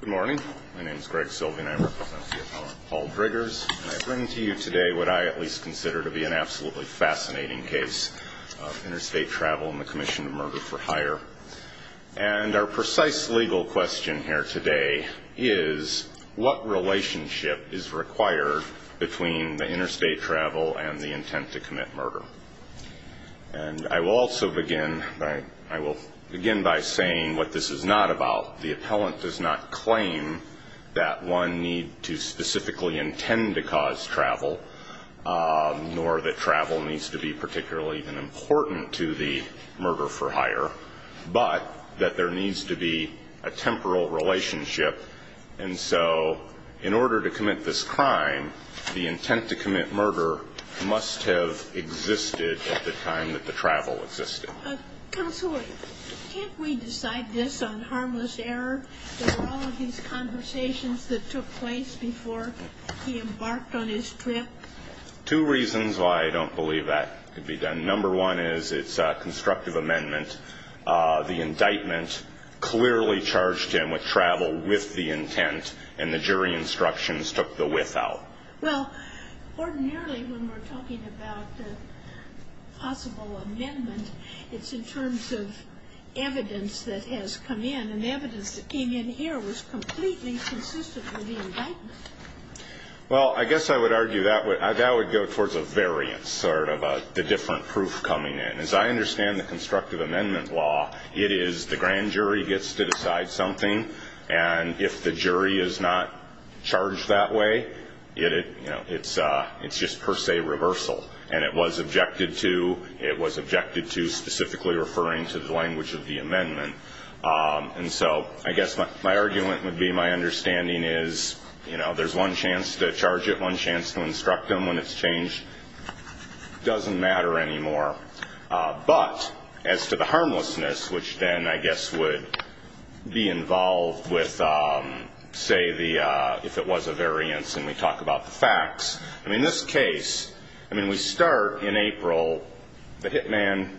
Good morning. My name is Greg Silvey and I represent the appellant Paul Driggers. And I bring to you today what I at least consider to be an absolutely fascinating case of interstate travel and the commission of murder for hire. And our precise legal question here today is, what relationship is required between the interstate travel and the intent to commit murder? And I will also begin by saying what this is not about. The appellant does not claim that one need to specifically intend to cause travel, nor that travel needs to be particularly important to the murder for hire, but that there needs to be a temporal relationship. And so in order to commit this crime, the intent to commit murder must have existed at the time that the travel existed. Counsel, can't we decide this on harmless error? There were all of these conversations that took place before he embarked on his trip. Two reasons why I don't believe that could be done. Number one is it's a constructive amendment. The indictment clearly charged him with travel with the intent, and the jury instructions took the with out. Well, ordinarily when we're talking about a possible amendment, it's in terms of evidence that has come in, and the evidence that came in here was completely consistent with the indictment. Well, I guess I would argue that would go towards a variance, sort of the different proof coming in. As I understand the constructive amendment law, it is the grand jury gets to decide something, and if the jury is not charged that way, it's just per se reversal, and it was objected to specifically referring to the language of the amendment. And so I guess my argument would be my understanding is there's one chance to charge it, one chance to instruct him when it's changed. It doesn't matter anymore. But as to the harmlessness, which then I guess would be involved with, say, if it was a variance, and we talk about the facts, I mean, this case, I mean, we start in April. The hitman,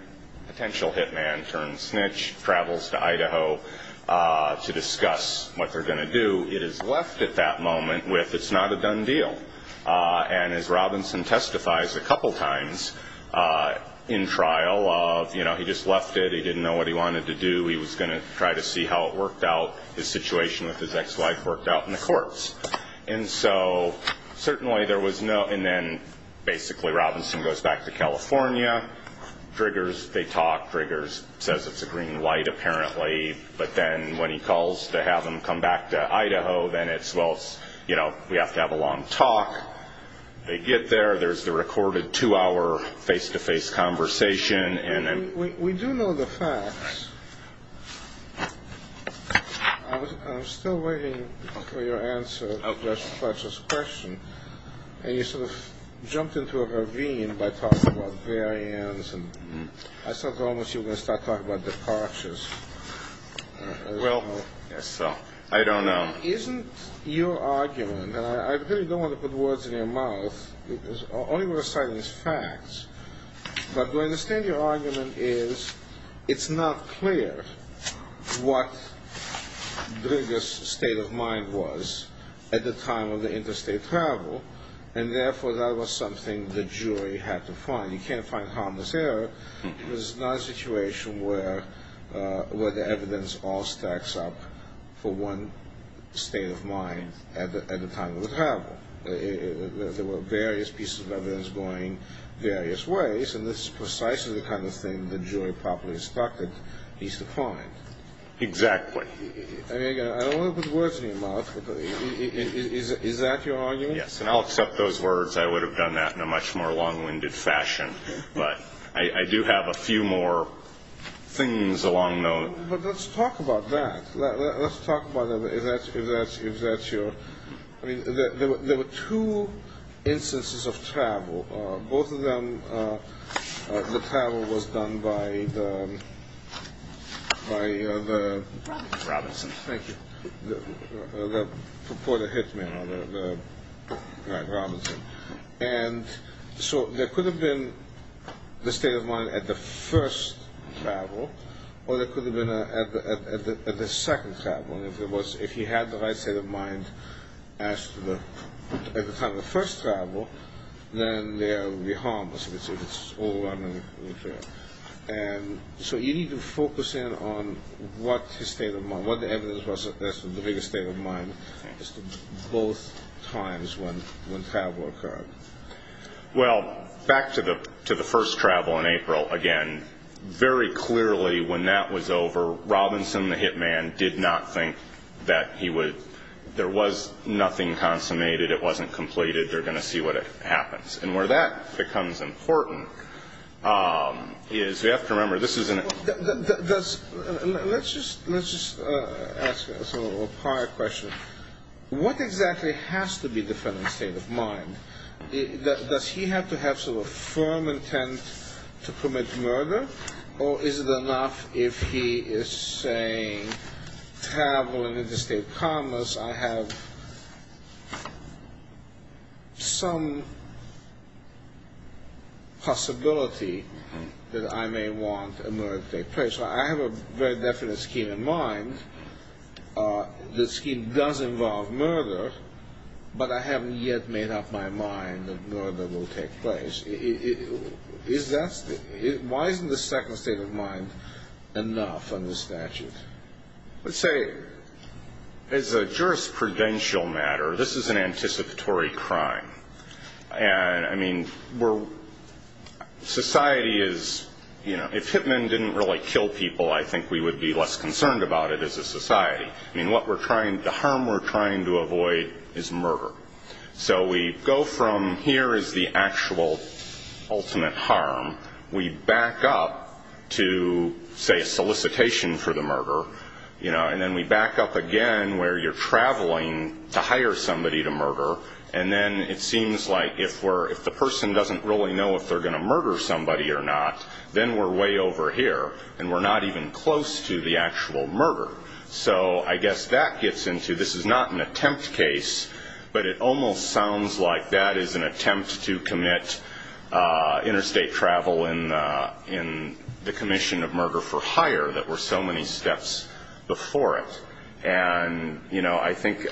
potential hitman turned snitch, travels to Idaho to discuss what they're going to do. It is left at that moment with it's not a done deal. And as Robinson testifies a couple times in trial of, you know, he just left it. He didn't know what he wanted to do. He was going to try to see how it worked out, his situation with his ex-wife worked out in the courts. And so certainly there was no and then basically Robinson goes back to California. Triggers, they talk. Triggers says it's a green light apparently. But then when he calls to have him come back to Idaho, then it's, well, it's, you know, we have to have a long talk. They get there. There's the recorded two-hour face-to-face conversation. We do know the facts. I'm still waiting for your answer to Judge Fletcher's question. And you sort of jumped into a ravine by talking about variance. And I thought almost you were going to start talking about departures. Well, yes. So I don't know. Isn't your argument, and I really don't want to put words in your mouth, all you were citing is facts. But do I understand your argument is it's not clear what Trigger's state of mind was at the time of the interstate travel, and therefore that was something the jury had to find. You can't find harmless error. It was not a situation where the evidence all stacks up for one state of mind at the time of the travel. There were various pieces of evidence going various ways, and this is precisely the kind of thing the jury properly instructed needs to find. Exactly. I mean, again, I don't want to put words in your mouth, but is that your argument? Yes, and I'll accept those words. I would have done that in a much more long-winded fashion. But I do have a few more things along those lines. But let's talk about that. Let's talk about it. If that's your, I mean, there were two instances of travel. Both of them, the travel was done by the... Robinson. Thank you. The reporter hit man, the guy Robinson. And so there could have been the state of mind at the first travel, or there could have been at the second travel. In other words, if he had the right state of mind at the time of the first travel, then there would be harmless, which is overwhelming. And so you need to focus in on what his state of mind, what the evidence was that's the biggest state of mind at both times when travel occurred. Well, back to the first travel in April, again, very clearly when that was over, Robinson, the hit man, did not think that he would... There was nothing consummated. It wasn't completed. They're going to see what happens. And where that becomes important is we have to remember this is an... Let's just ask a prior question. What exactly has to be the federal state of mind? Does he have to have sort of a firm intent to commit murder, or is it enough if he is saying travel and interstate commerce, I have some possibility that I may want a murder to take place. I have a very definite scheme in mind. The scheme does involve murder, but I haven't yet made up my mind that murder will take place. Why isn't the second state of mind enough under statute? Let's say as a jurisprudential matter, this is an anticipatory crime. I mean, society is... If hit men didn't really kill people, I think we would be less concerned about it as a society. I mean, the harm we're trying to avoid is murder. So we go from here is the actual ultimate harm. We back up to, say, a solicitation for the murder, and then we back up again where you're traveling to hire somebody to murder, and then it seems like if the person doesn't really know if they're going to murder somebody or not, then we're way over here, and we're not even close to the actual murder. So I guess that gets into this is not an attempt case, but it almost sounds like that is an attempt to commit interstate travel in the commission of murder for hire that were so many steps before it. I think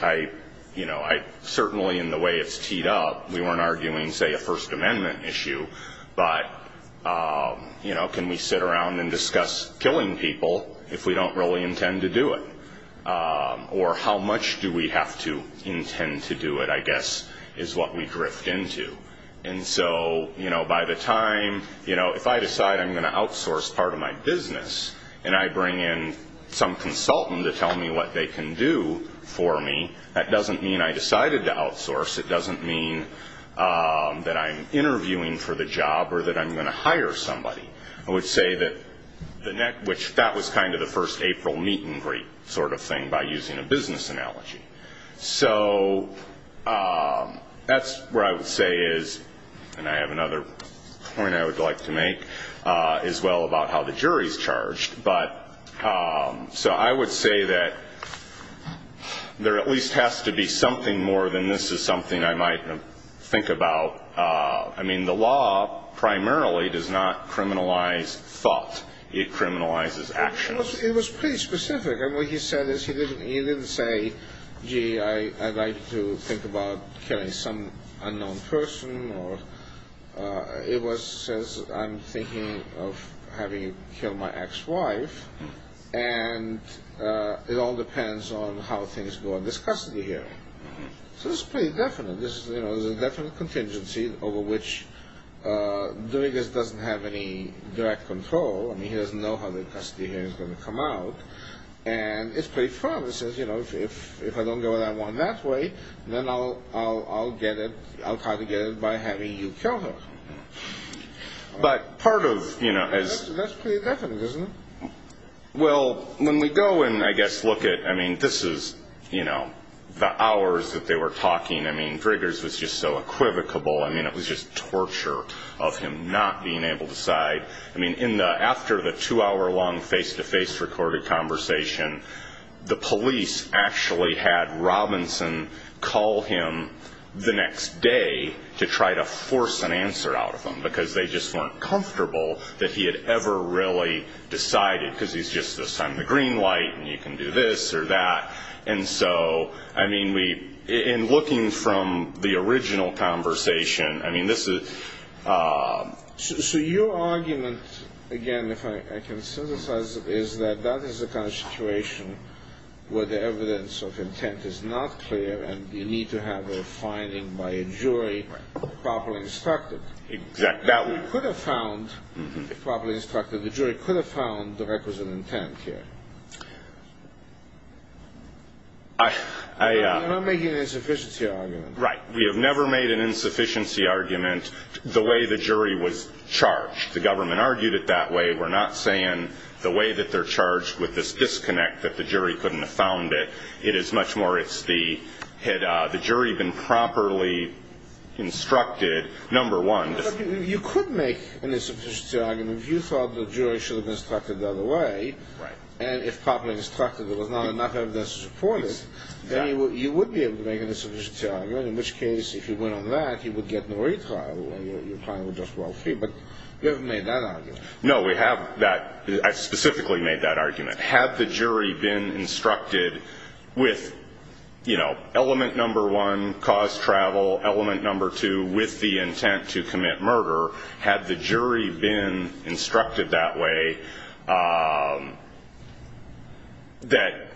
certainly in the way it's teed up, we weren't arguing, say, a First Amendment issue, but can we sit around and discuss killing people if we don't really intend to do it? Or how much do we have to intend to do it, I guess, is what we drift into. And so by the time if I decide I'm going to outsource part of my business and I bring in some consultant to tell me what they can do for me, that doesn't mean I decided to outsource. It doesn't mean that I'm interviewing for the job or that I'm going to hire somebody. I would say that that was kind of the first April meet and greet sort of thing by using a business analogy. So that's where I would say is, and I have another point I would like to make as well about how the jury is charged. But so I would say that there at least has to be something more than this is something I might think about. I mean, the law primarily does not criminalize thought. It criminalizes actions. It was pretty specific. And what he said is he didn't say, gee, I'd like to think about killing some unknown person. It was, since I'm thinking of having killed my ex-wife, and it all depends on how things go in this custody hearing. So it's pretty definite. There's a definite contingency over which Dominguez doesn't have any direct control. I mean, he doesn't know how the custody hearing is going to come out. And it's pretty firm. It says, you know, if I don't go that way, then I'll get it. I'll try to get it by having you kill her. But part of, you know, as... That's pretty definite, isn't it? Well, when we go and, I guess, look at, I mean, this is, you know, the hours that they were talking. I mean, Driggers was just so equivocable. I mean, it was just torture of him not being able to decide. I mean, after the two-hour-long face-to-face recorded conversation, the police actually had Robinson call him the next day to try to force an answer out of him, because they just weren't comfortable that he had ever really decided, because he's just assigned the green light and you can do this or that. And so, I mean, in looking from the original conversation, I mean, this is... Your argument, again, if I can synthesize it, is that that is the kind of situation where the evidence of intent is not clear and you need to have a finding by a jury properly instructed. Exactly. We could have found, if properly instructed, the jury could have found the records of intent here. I... You're not making an insufficiency argument. Right. We have never made an insufficiency argument the way the jury was charged. The government argued it that way. We're not saying the way that they're charged with this disconnect that the jury couldn't have found it. It is much more it's the, had the jury been properly instructed, number one... You could make an insufficiency argument if you thought the jury should have been instructed the other way. Right. And if properly instructed there was not enough evidence to support it, then you would be able to make an insufficiency argument, in which case, if you went on that, you would get no retrial and your client would just go out free. But you haven't made that argument. No, we haven't. I specifically made that argument. Had the jury been instructed with, you know, element number one, cause travel, element number two, with the intent to commit murder, had the jury been instructed that way, that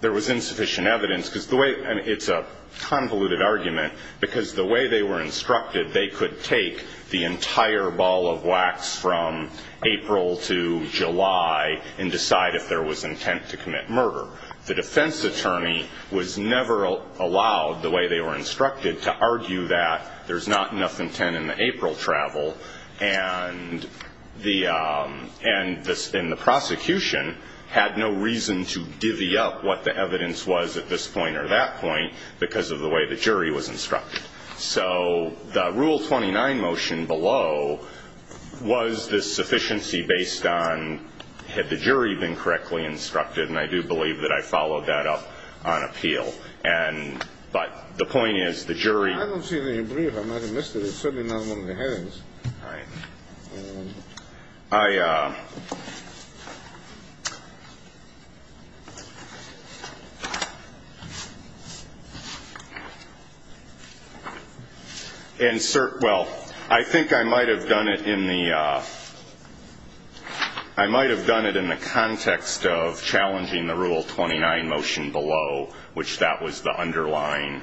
there was insufficient evidence. Cause the way, and it's a convoluted argument, because the way they were instructed, they could take the entire ball of wax from April to July and decide if there was intent to commit murder. The defense attorney was never allowed, the way they were instructed, to argue that there's not enough intent in the April travel. And the prosecution had no reason to divvy up what the evidence was at this point or that point, because of the way the jury was instructed. So the Rule 29 motion below was this sufficiency based on, had the jury been correctly instructed, and I do believe that I followed that up on appeal. But the point is, the jury. I don't see any brief. I might have missed it. It's certainly not one of the headings. All right. Insert, well, I think I might have done it in the, I might have done it in the context of challenging the Rule 29 motion below, which that was the underlying,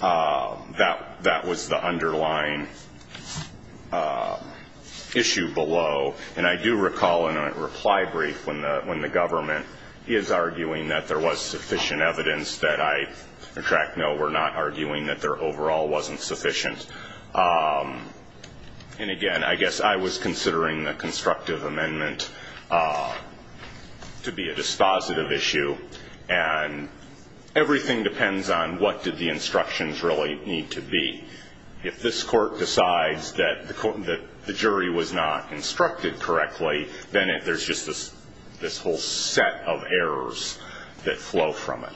that was the underlying issue below. And I do recall in a reply brief when the government is arguing that there was sufficient evidence that I, in fact, no, we're not arguing that there overall wasn't sufficient. And, again, I guess I was considering the constructive amendment to be a dispositive issue. And everything depends on what did the instructions really need to be. If this court decides that the jury was not instructed correctly, then there's just this whole set of errors that flow from it.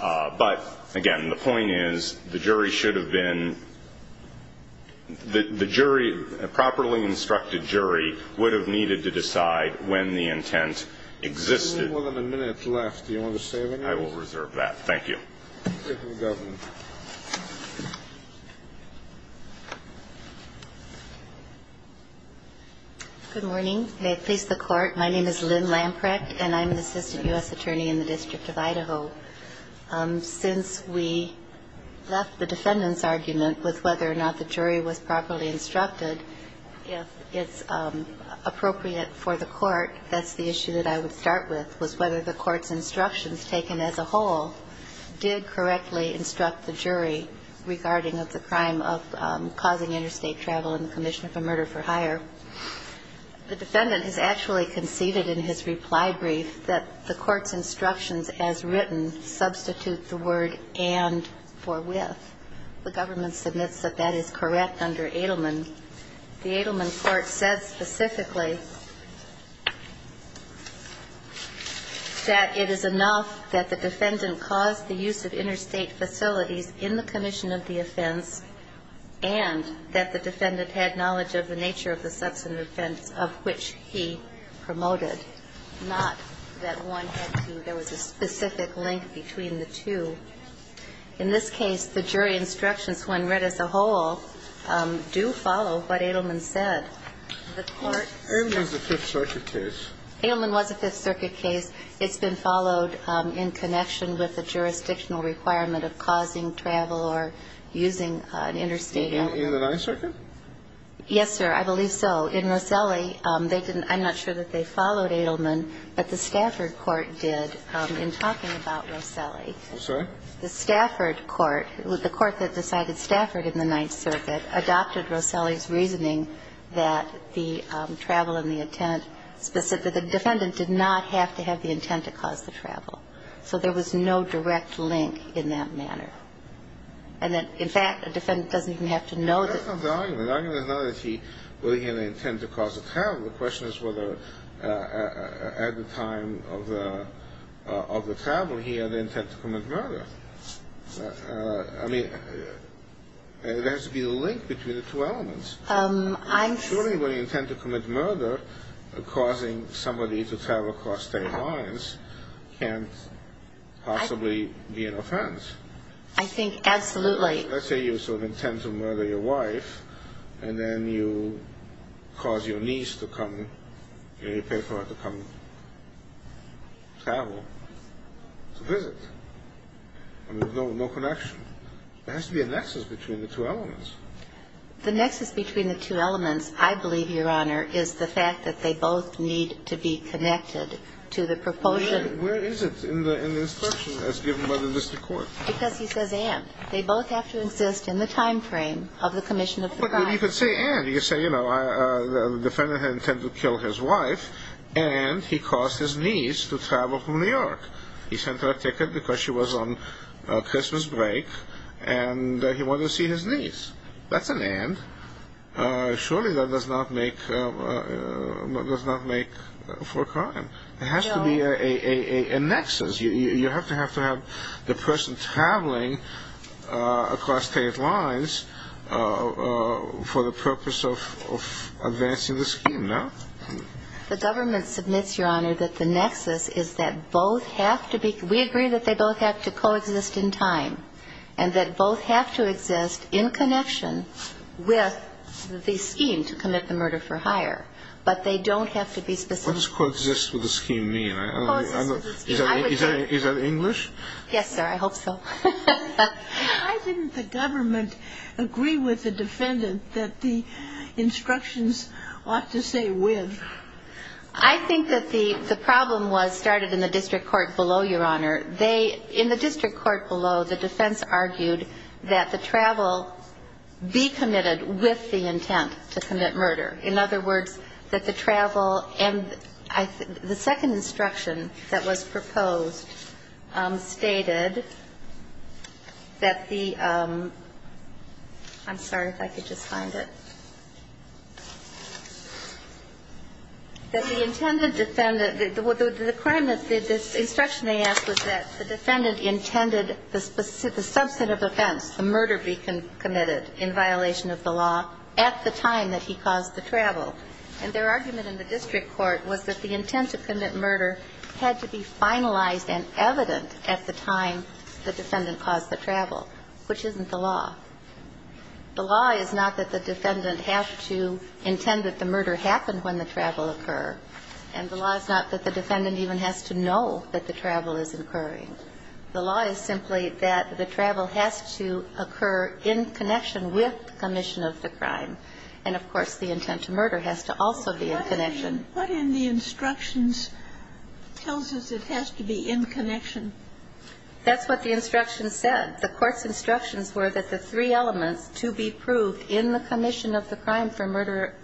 But, again, the point is, the jury should have been, the jury, a properly instructed jury would have needed to decide when the intent existed. We have a minute left. Do you want to say anything? I will reserve that. Thank you. Good morning. May it please the Court. My name is Lynn Lamprecht, and I'm an assistant U.S. attorney in the District of Idaho. Since we left the defendant's argument with whether or not the jury was properly instructed, if it's appropriate for the court, that's the issue that I would start with, was whether the court's instructions taken as a whole did correctly instruct the jury regarding the crime of causing interstate travel and the commission of a murder for hire. The defendant has actually conceded in his reply brief that the court's instructions as written substitute the word and for with. The government submits that that is correct under Edelman. The Edelman court said specifically that it is enough that the defendant caused the use of interstate facilities in the commission of the offense and that the defendant had knowledge of the nature of the substantive offense of which he promoted, not that one had to do with a specific link between the two. In this case, the jury instructions when read as a whole do follow what Edelman said. Edelman was a Fifth Circuit case. Edelman was a Fifth Circuit case. It's been followed in connection with the jurisdictional requirement of causing travel or using an interstate elevator. In the Ninth Circuit? Yes, sir. I believe so. In Roselli, they didn't – I'm not sure that they followed Edelman, but the Stafford court did in talking about Roselli. I'm sorry? The Stafford court, the court that decided Stafford in the Ninth Circuit, adopted Roselli's reasoning that the travel and the intent specific – the defendant did not have to have the intent to cause the travel. So there was no direct link in that manner. And that, in fact, a defendant doesn't even have to know that – That's not the argument. The argument is not that he – whether he had an intent to cause the travel. The question is whether, at the time of the travel here, the intent to commit murder. I mean, there has to be a link between the two elements. I'm – Surely, when you intend to commit murder, causing somebody to travel across state lines can't possibly be an offense. I think absolutely. Let's say you sort of intend to murder your wife, and then you cause your niece to come – you pay for her to come travel to visit. I mean, there's no connection. There has to be a nexus between the two elements. The nexus between the two elements, I believe, Your Honor, is the fact that they both need to be connected to the proposal. Where is it in the instruction as given by the district court? Because he says, and. They both have to exist in the time frame of the commission of the crime. But you could say, and. You could say, you know, the defendant had intended to kill his wife, and he caused his niece to travel from New York. He sent her a ticket because she was on Christmas break, and he wanted to see his niece. That's an and. Surely that does not make for a crime. There has to be a nexus. You have to have the person traveling across state lines for the purpose of advancing the scheme, no? The government submits, Your Honor, that the nexus is that both have to be – we agree that they both have to coexist in time, and that both have to exist in connection with the scheme to commit the murder for hire. But they don't have to be specific. Coexist with the scheme. Is that English? Yes, sir. I hope so. Why didn't the government agree with the defendant that the instructions ought to say with? I think that the problem was started in the district court below, Your Honor. In the district court below, the defense argued that the travel be committed with the intent to commit murder. In other words, that the travel – and the second instruction that was proposed stated that the – I'm sorry if I could just find it – that the intended defendant – the crime that – the instruction they asked was that the defendant intended the subset of events, the murder be committed in violation of the law at the time that he caused the travel. And their argument in the district court was that the intent to commit murder had to be finalized and evident at the time the defendant caused the travel, which isn't the law. The law is not that the defendant has to intend that the murder happened when the travel occurred, and the law is not that the defendant even has to know that the travel is occurring. The law is simply that the travel has to occur in connection with the commission of the crime, and, of course, the intent to murder has to also be in connection. What in the instructions tells us it has to be in connection? That's what the instructions said. The court's instructions were that the three elements to be proved in the commission of the crime for murder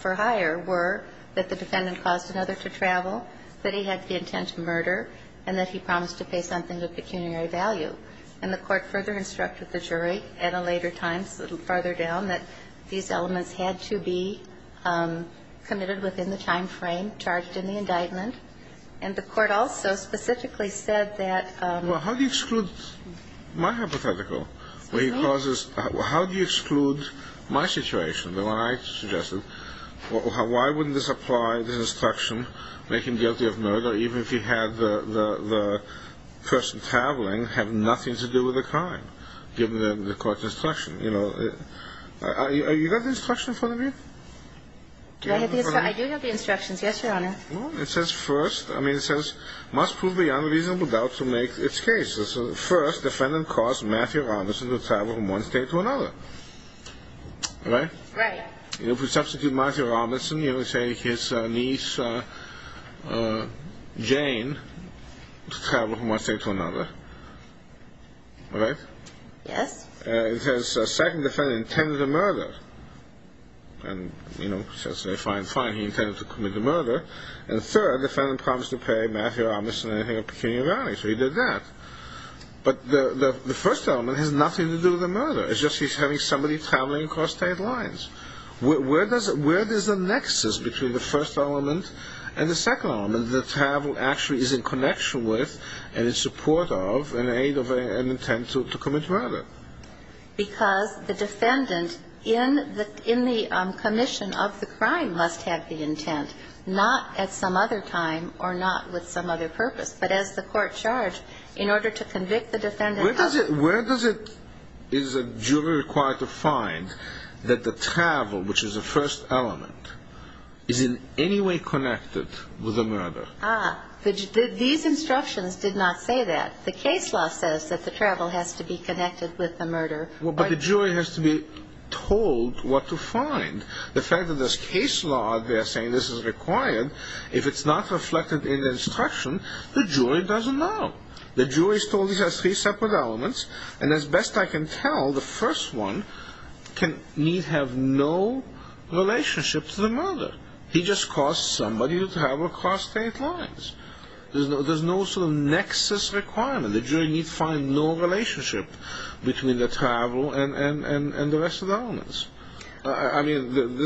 for hire were that the defendant caused another to travel, that he had the intent to murder, and that he promised to pay something of pecuniary value. And the court further instructed the jury at a later time, a little farther down, that these elements had to be committed within the timeframe charged in the indictment. And the court also specifically said that – Well, how do you exclude my hypothetical? Me? How do you exclude my situation, the one I suggested? Why wouldn't this apply to the instruction, make him guilty of murder, even if he had the person traveling have nothing to do with the crime, given the court's instruction? You know, are you going to give the instruction in front of me? I do have the instructions. Yes, Your Honor. Well, it says first – I mean, it says, must prove beyond a reasonable doubt to make its case. First, defendant caused Matthew Robinson to travel from one state to another. Right? Right. You know, if we substitute Matthew Robinson, you know, say his niece, Jane, to travel from one state to another. Right? Yes. It says second, defendant intended to murder. And, you know, since they find fine, he intended to commit the murder. And third, defendant promised to pay Matthew Robinson anything of pecuniary value. So he did that. But the first element has nothing to do with the murder. It's just he's having somebody traveling across state lines. Where does the nexus between the first element and the second element that travel actually is in connection with and in support of and aid of an intent to commit murder? Because the defendant in the commission of the crime must have the intent, not at some other time or not with some other purpose, but as the court charged, in order to convict the defendant of the crime. Where is a jury required to find that the travel, which is the first element, is in any way connected with the murder? These instructions did not say that. The case law says that the travel has to be connected with the murder. But the jury has to be told what to find. The fact that this case law, they're saying this is required, if it's not reflected in the instruction, the jury doesn't know. The jury is told these are three separate elements. And as best I can tell, the first one needs to have no relationship to the murder. He just caused somebody to travel across state lines. There's no sort of nexus requirement. The jury needs to find no relationship between the travel and the rest of the elements. I mean,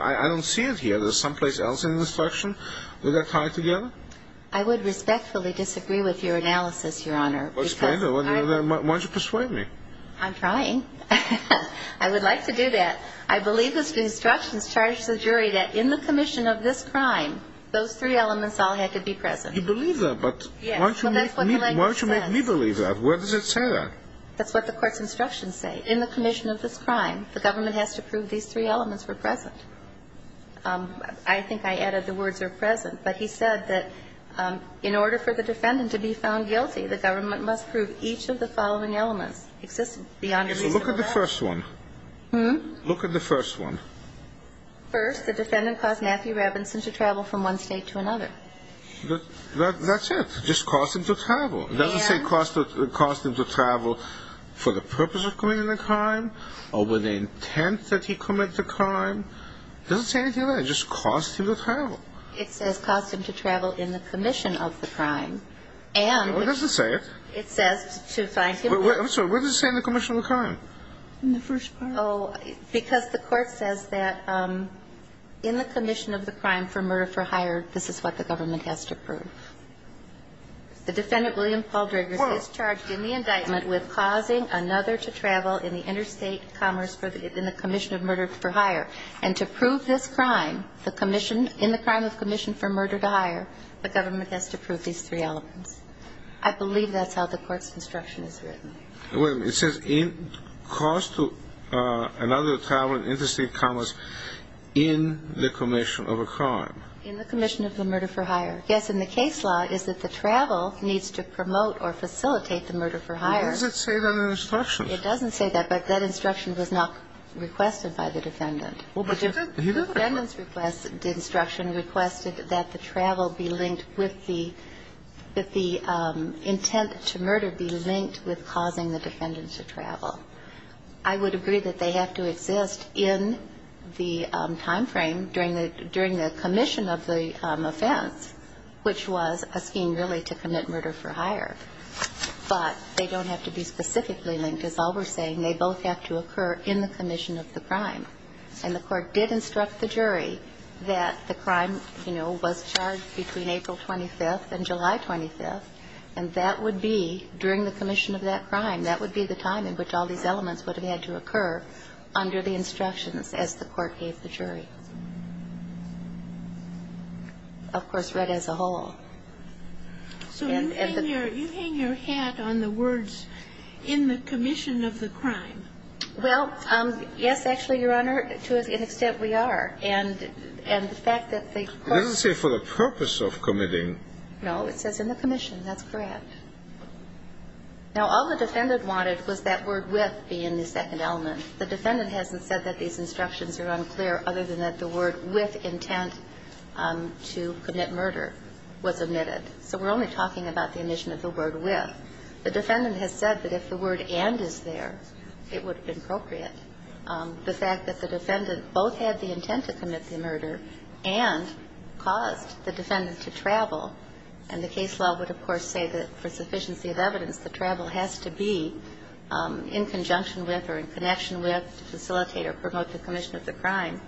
I don't see it here. There's someplace else in the instruction where they're tied together. I would respectfully disagree with your analysis, Your Honor. Why don't you persuade me? I'm trying. I would like to do that. I believe the instructions charged the jury that in the commission of this crime, those three elements all had to be present. You believe that, but why don't you make me believe that? Where does it say that? That's what the court's instructions say. In the commission of this crime, the government has to prove these three elements were present. I think I added the words are present. But he said that in order for the defendant to be found guilty, the government must prove each of the following elements exist beyond reasonable doubt. So look at the first one. Look at the first one. First, the defendant caused Matthew Robinson to travel from one state to another. That's it. It just caused him to travel. It doesn't say it caused him to travel for the purpose of committing the crime or with the intent that he committed the crime. It doesn't say anything like that. It just caused him to travel. It says caused him to travel in the commission of the crime. What does it say? It says to find him. I'm sorry. What does it say in the commission of the crime? In the first part. Because the court says that in the commission of the crime for murder for hire, this is what the government has to prove. The defendant, William Paul Driggers, is charged in the indictment with causing another to travel in the interstate commerce in the commission of murder for hire. And to prove this crime, the commission, in the crime of commission for murder to hire, the government has to prove these three elements. I believe that's how the court's instruction is written. Wait a minute. It says caused to another to travel in interstate commerce in the commission of a crime. In the commission of the murder for hire. Yes, and the case law is that the travel needs to promote or facilitate the murder for hire. Why does it say that in the instructions? It doesn't say that. But that instruction was not requested by the defendant. The defendant's instruction requested that the travel be linked with the intent to murder be linked with causing the defendant to travel. I would agree that they have to exist in the timeframe during the commission of the offense, which was a scheme really to commit murder for hire. But they don't have to be specifically linked. As all were saying, they both have to occur in the commission of the crime. And the court did instruct the jury that the crime, you know, was charged between April 25th and July 25th. And that would be during the commission of that crime. That would be the time in which all these elements would have had to occur under the instructions as the court gave the jury. Of course, read as a whole. So you hang your hat on the words, in the commission of the crime. Well, yes, actually, Your Honor, to an extent we are. And the fact that the court ---- It doesn't say for the purpose of committing. No. It says in the commission. That's correct. Now, all the defendant wanted was that word with be in the second element. The defendant hasn't said that these instructions are unclear other than that the word with intent to commit murder was omitted. So we're only talking about the omission of the word with. The defendant has said that if the word and is there, it would have been appropriate. The fact that the defendant both had the intent to commit the murder and caused the defendant to travel, and the case law would, of course, say that for sufficiency of evidence, the travel has to be in conjunction with or in connection with to facilitate or promote the commission of the crime.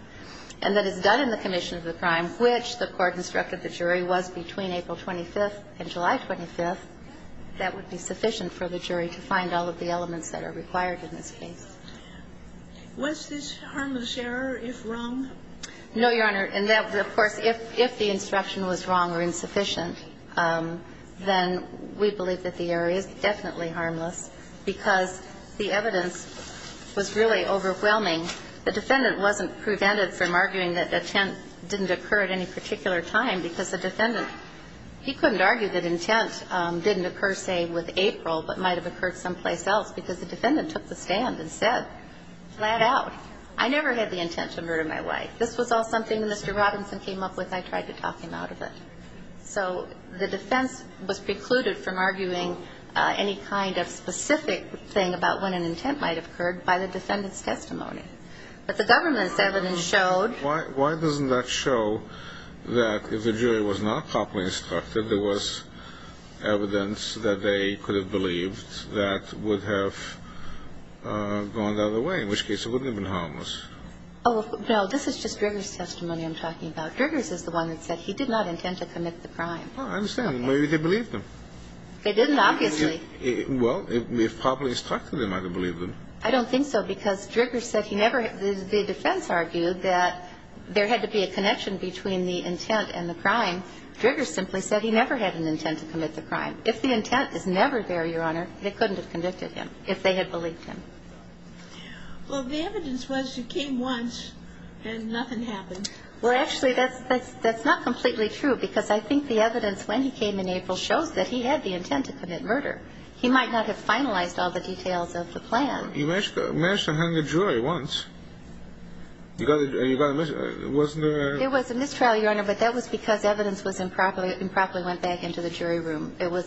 And that is done in the commission of the crime, which the court instructed the jury was between April 25th and July 25th, that would be sufficient for the jury to find all of the elements that are required in this case. Was this harmless error if wrong? No, Your Honor. And that, of course, if the instruction was wrong or insufficient, then we believe that the error is definitely harmless because the evidence was really overwhelming. The defendant wasn't prevented from arguing that intent didn't occur at any particular time because the defendant, he couldn't argue that intent didn't occur, say, with April, but might have occurred someplace else because the defendant took the stand and said flat out, I never had the intent to murder my wife. This was all something Mr. Robinson came up with. I tried to talk him out of it. So the defense was precluded from arguing any kind of specific thing about when an incident occurred. But the government's evidence showed. Why doesn't that show that if the jury was not properly instructed, there was evidence that they could have believed that would have gone the other way, in which case it wouldn't have been harmless? Oh, no, this is just Driggers' testimony I'm talking about. Driggers is the one that said he did not intend to commit the crime. I understand. Maybe they believed him. They didn't, obviously. Well, if properly instructed, they might have believed him. I don't think so because Driggers said he never had the defense argued that there had to be a connection between the intent and the crime. Driggers simply said he never had an intent to commit the crime. If the intent is never there, Your Honor, they couldn't have convicted him if they had believed him. Well, the evidence was he came once and nothing happened. Well, actually, that's not completely true because I think the evidence when he came in April shows that he had the intent to commit murder. He might not have finalized all the details of the plan. You managed to hang a jury once. You got a mistrial. Wasn't there a? It was a mistrial, Your Honor, but that was because evidence was improperly went back into the jury room. It was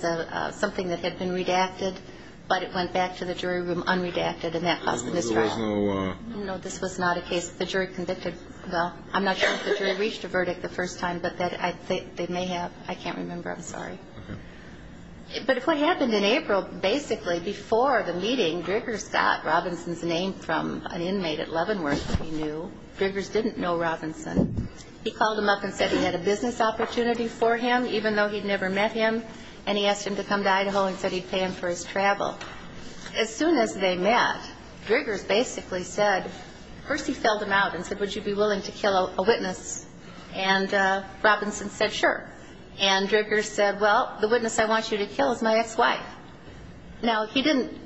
something that had been redacted, but it went back to the jury room unredacted and that caused a mistrial. There was no. No, this was not a case. The jury convicted. Well, I'm not sure if the jury reached a verdict the first time, but they may have. I can't remember. I'm sorry. Okay. But if what happened in April, basically, before the meeting, Driggers got Robinson's name from an inmate at Leavenworth, he knew. Driggers didn't know Robinson. He called him up and said he had a business opportunity for him, even though he'd never met him, and he asked him to come to Idaho and said he'd pay him for his travel. As soon as they met, Driggers basically said, first he felled him out and said, Would you be willing to kill a witness? And Robinson said, Sure. And Driggers said, Well, the witness I want you to kill is my ex-wife. Now, he didn't.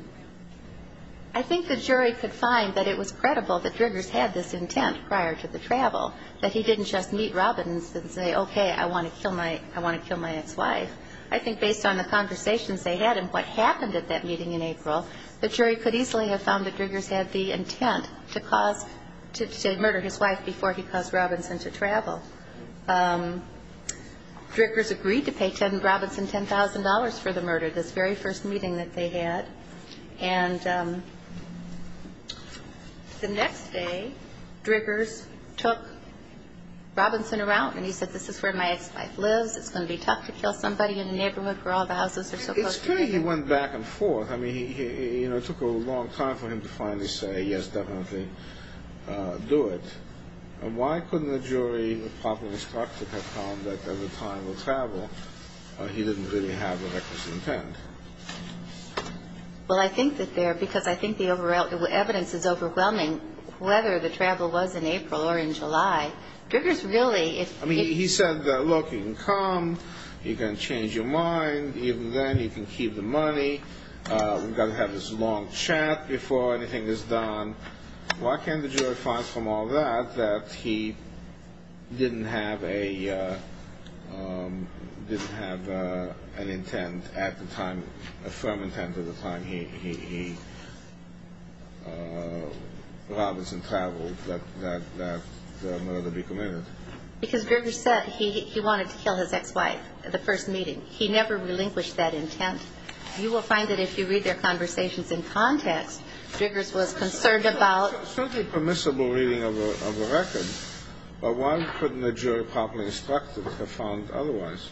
I think the jury could find that it was credible that Driggers had this intent prior to the travel, that he didn't just meet Robinson and say, Okay, I want to kill my ex-wife. I think based on the conversations they had and what happened at that meeting in April, the jury could easily have found that Driggers had the intent to cause, to murder his wife before he caused Robinson to travel. Driggers agreed to pay Ted and Robinson $10,000 for the murder, this very first meeting that they had. And the next day, Driggers took Robinson around and he said, This is where my ex-wife lives. It's going to be tough to kill somebody in the neighborhood where all the houses are supposed to be. It's funny he went back and forth. I mean, it took a long time for him to finally say, Yes, definitely, do it. And why couldn't the jury, the populist doctor, have found that at the time of the travel, he didn't really have a reckless intent? Well, I think that there, because I think the evidence is overwhelming, whether the travel was in April or in July. Driggers really... I mean, he said, Look, you can come. You can change your mind. Even then, you can keep the money. We've got to have this long chat before anything is done. Why can't the jury find from all that that he didn't have a, didn't have an intent at the time, a firm intent at the time he, Robinson traveled that the murder be committed? Because Driggers said he wanted to kill his ex-wife at the first meeting. You will find that if you read their conversations in context, Driggers was concerned about... Certainly permissible reading of the record. But why couldn't the jury, the populist doctor, have found otherwise?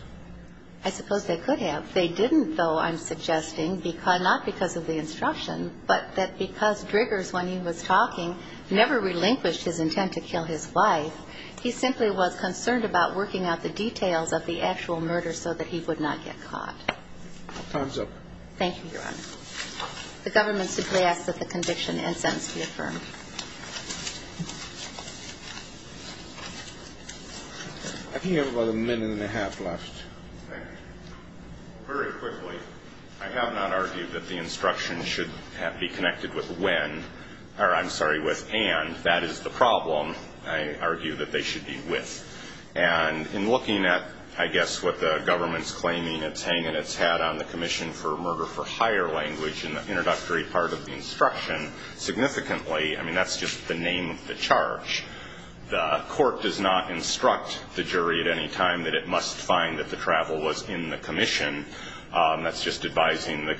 I suppose they could have. They didn't, though I'm suggesting, not because of the instruction, but that because Driggers, when he was talking, never relinquished his intent to kill his wife. He simply was concerned about working out the details of the actual murder so that he would not get caught. Time's up. Thank you, Your Honor. The government simply asks that the conviction and sentence be affirmed. I think you have about a minute and a half left. Thank you. Very quickly, I have not argued that the instruction should be connected with when, or I'm sorry, with and. That is the problem, I argue, that they should be with. And in looking at, I guess, what the government's claiming it's hanging its hat on, the Commission for Murder for Higher Language, in the introductory part of the instruction, significantly, I mean, that's just the name of the charge. The court does not instruct the jury at any time that it must find that the travel was in the commission. That's just advising the...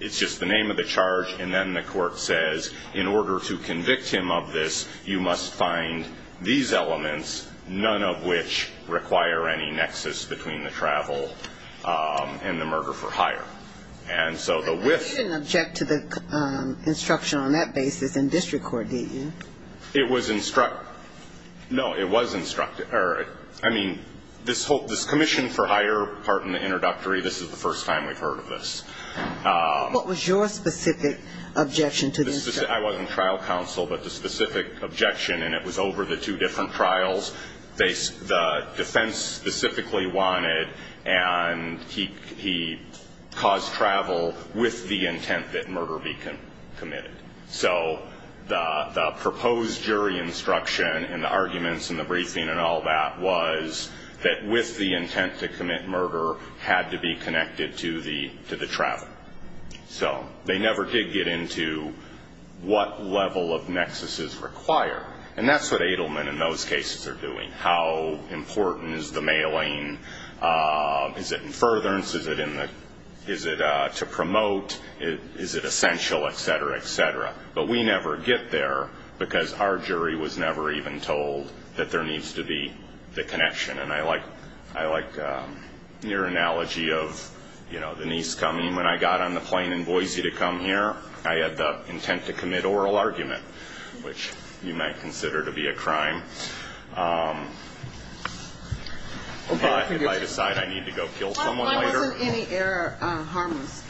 It's just the name of the charge, and then the court says, in order to convict him of this, you must find these elements, none of which require any nexus between the travel and the murder for higher. And so the with... You didn't object to the instruction on that basis in district court, did you? It was instruct. No, it was instruct. I mean, this commission for higher part in the introductory, this is the first time we've heard of this. What was your specific objection to the instruction? I wasn't trial counsel, but the specific objection, and it was over the two different trials, the defense specifically wanted, and he caused travel with the intent that murder be committed. So the proposed jury instruction and the arguments and the briefing and all that was that, with the intent to commit murder, had to be connected to the travel. So they never did get into what level of nexus is required, and that's what Edelman in those cases are doing. How important is the mailing? Is it in furtherance? Is it to promote? Is it essential, et cetera, et cetera? But we never get there because our jury was never even told that there needs to be the connection. And I like your analogy of the niece coming. When I got on the plane in Boise to come here, I had the intent to commit oral argument, which you might consider to be a crime. If I decide I need to go kill someone later. Why wasn't any error harmless?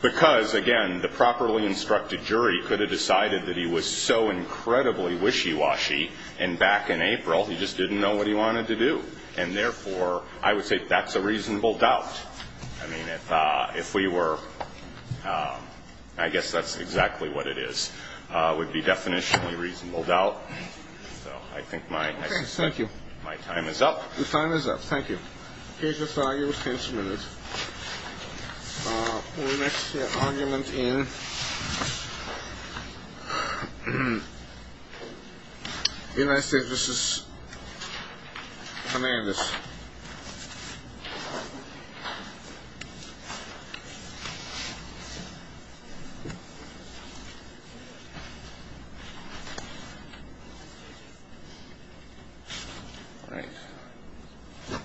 Because, again, the properly instructed jury could have decided that he was so incredibly wishy-washy, and back in April he just didn't know what he wanted to do. And, therefore, I would say that's a reasonable doubt. I mean, if we were ‑‑ I guess that's exactly what it is, would be definitionally reasonable doubt. So I think my time is up. Your time is up. Thank you. Okay. Just use your hands for a minute. We're going to see an argument in United States v. Hernandez. All right.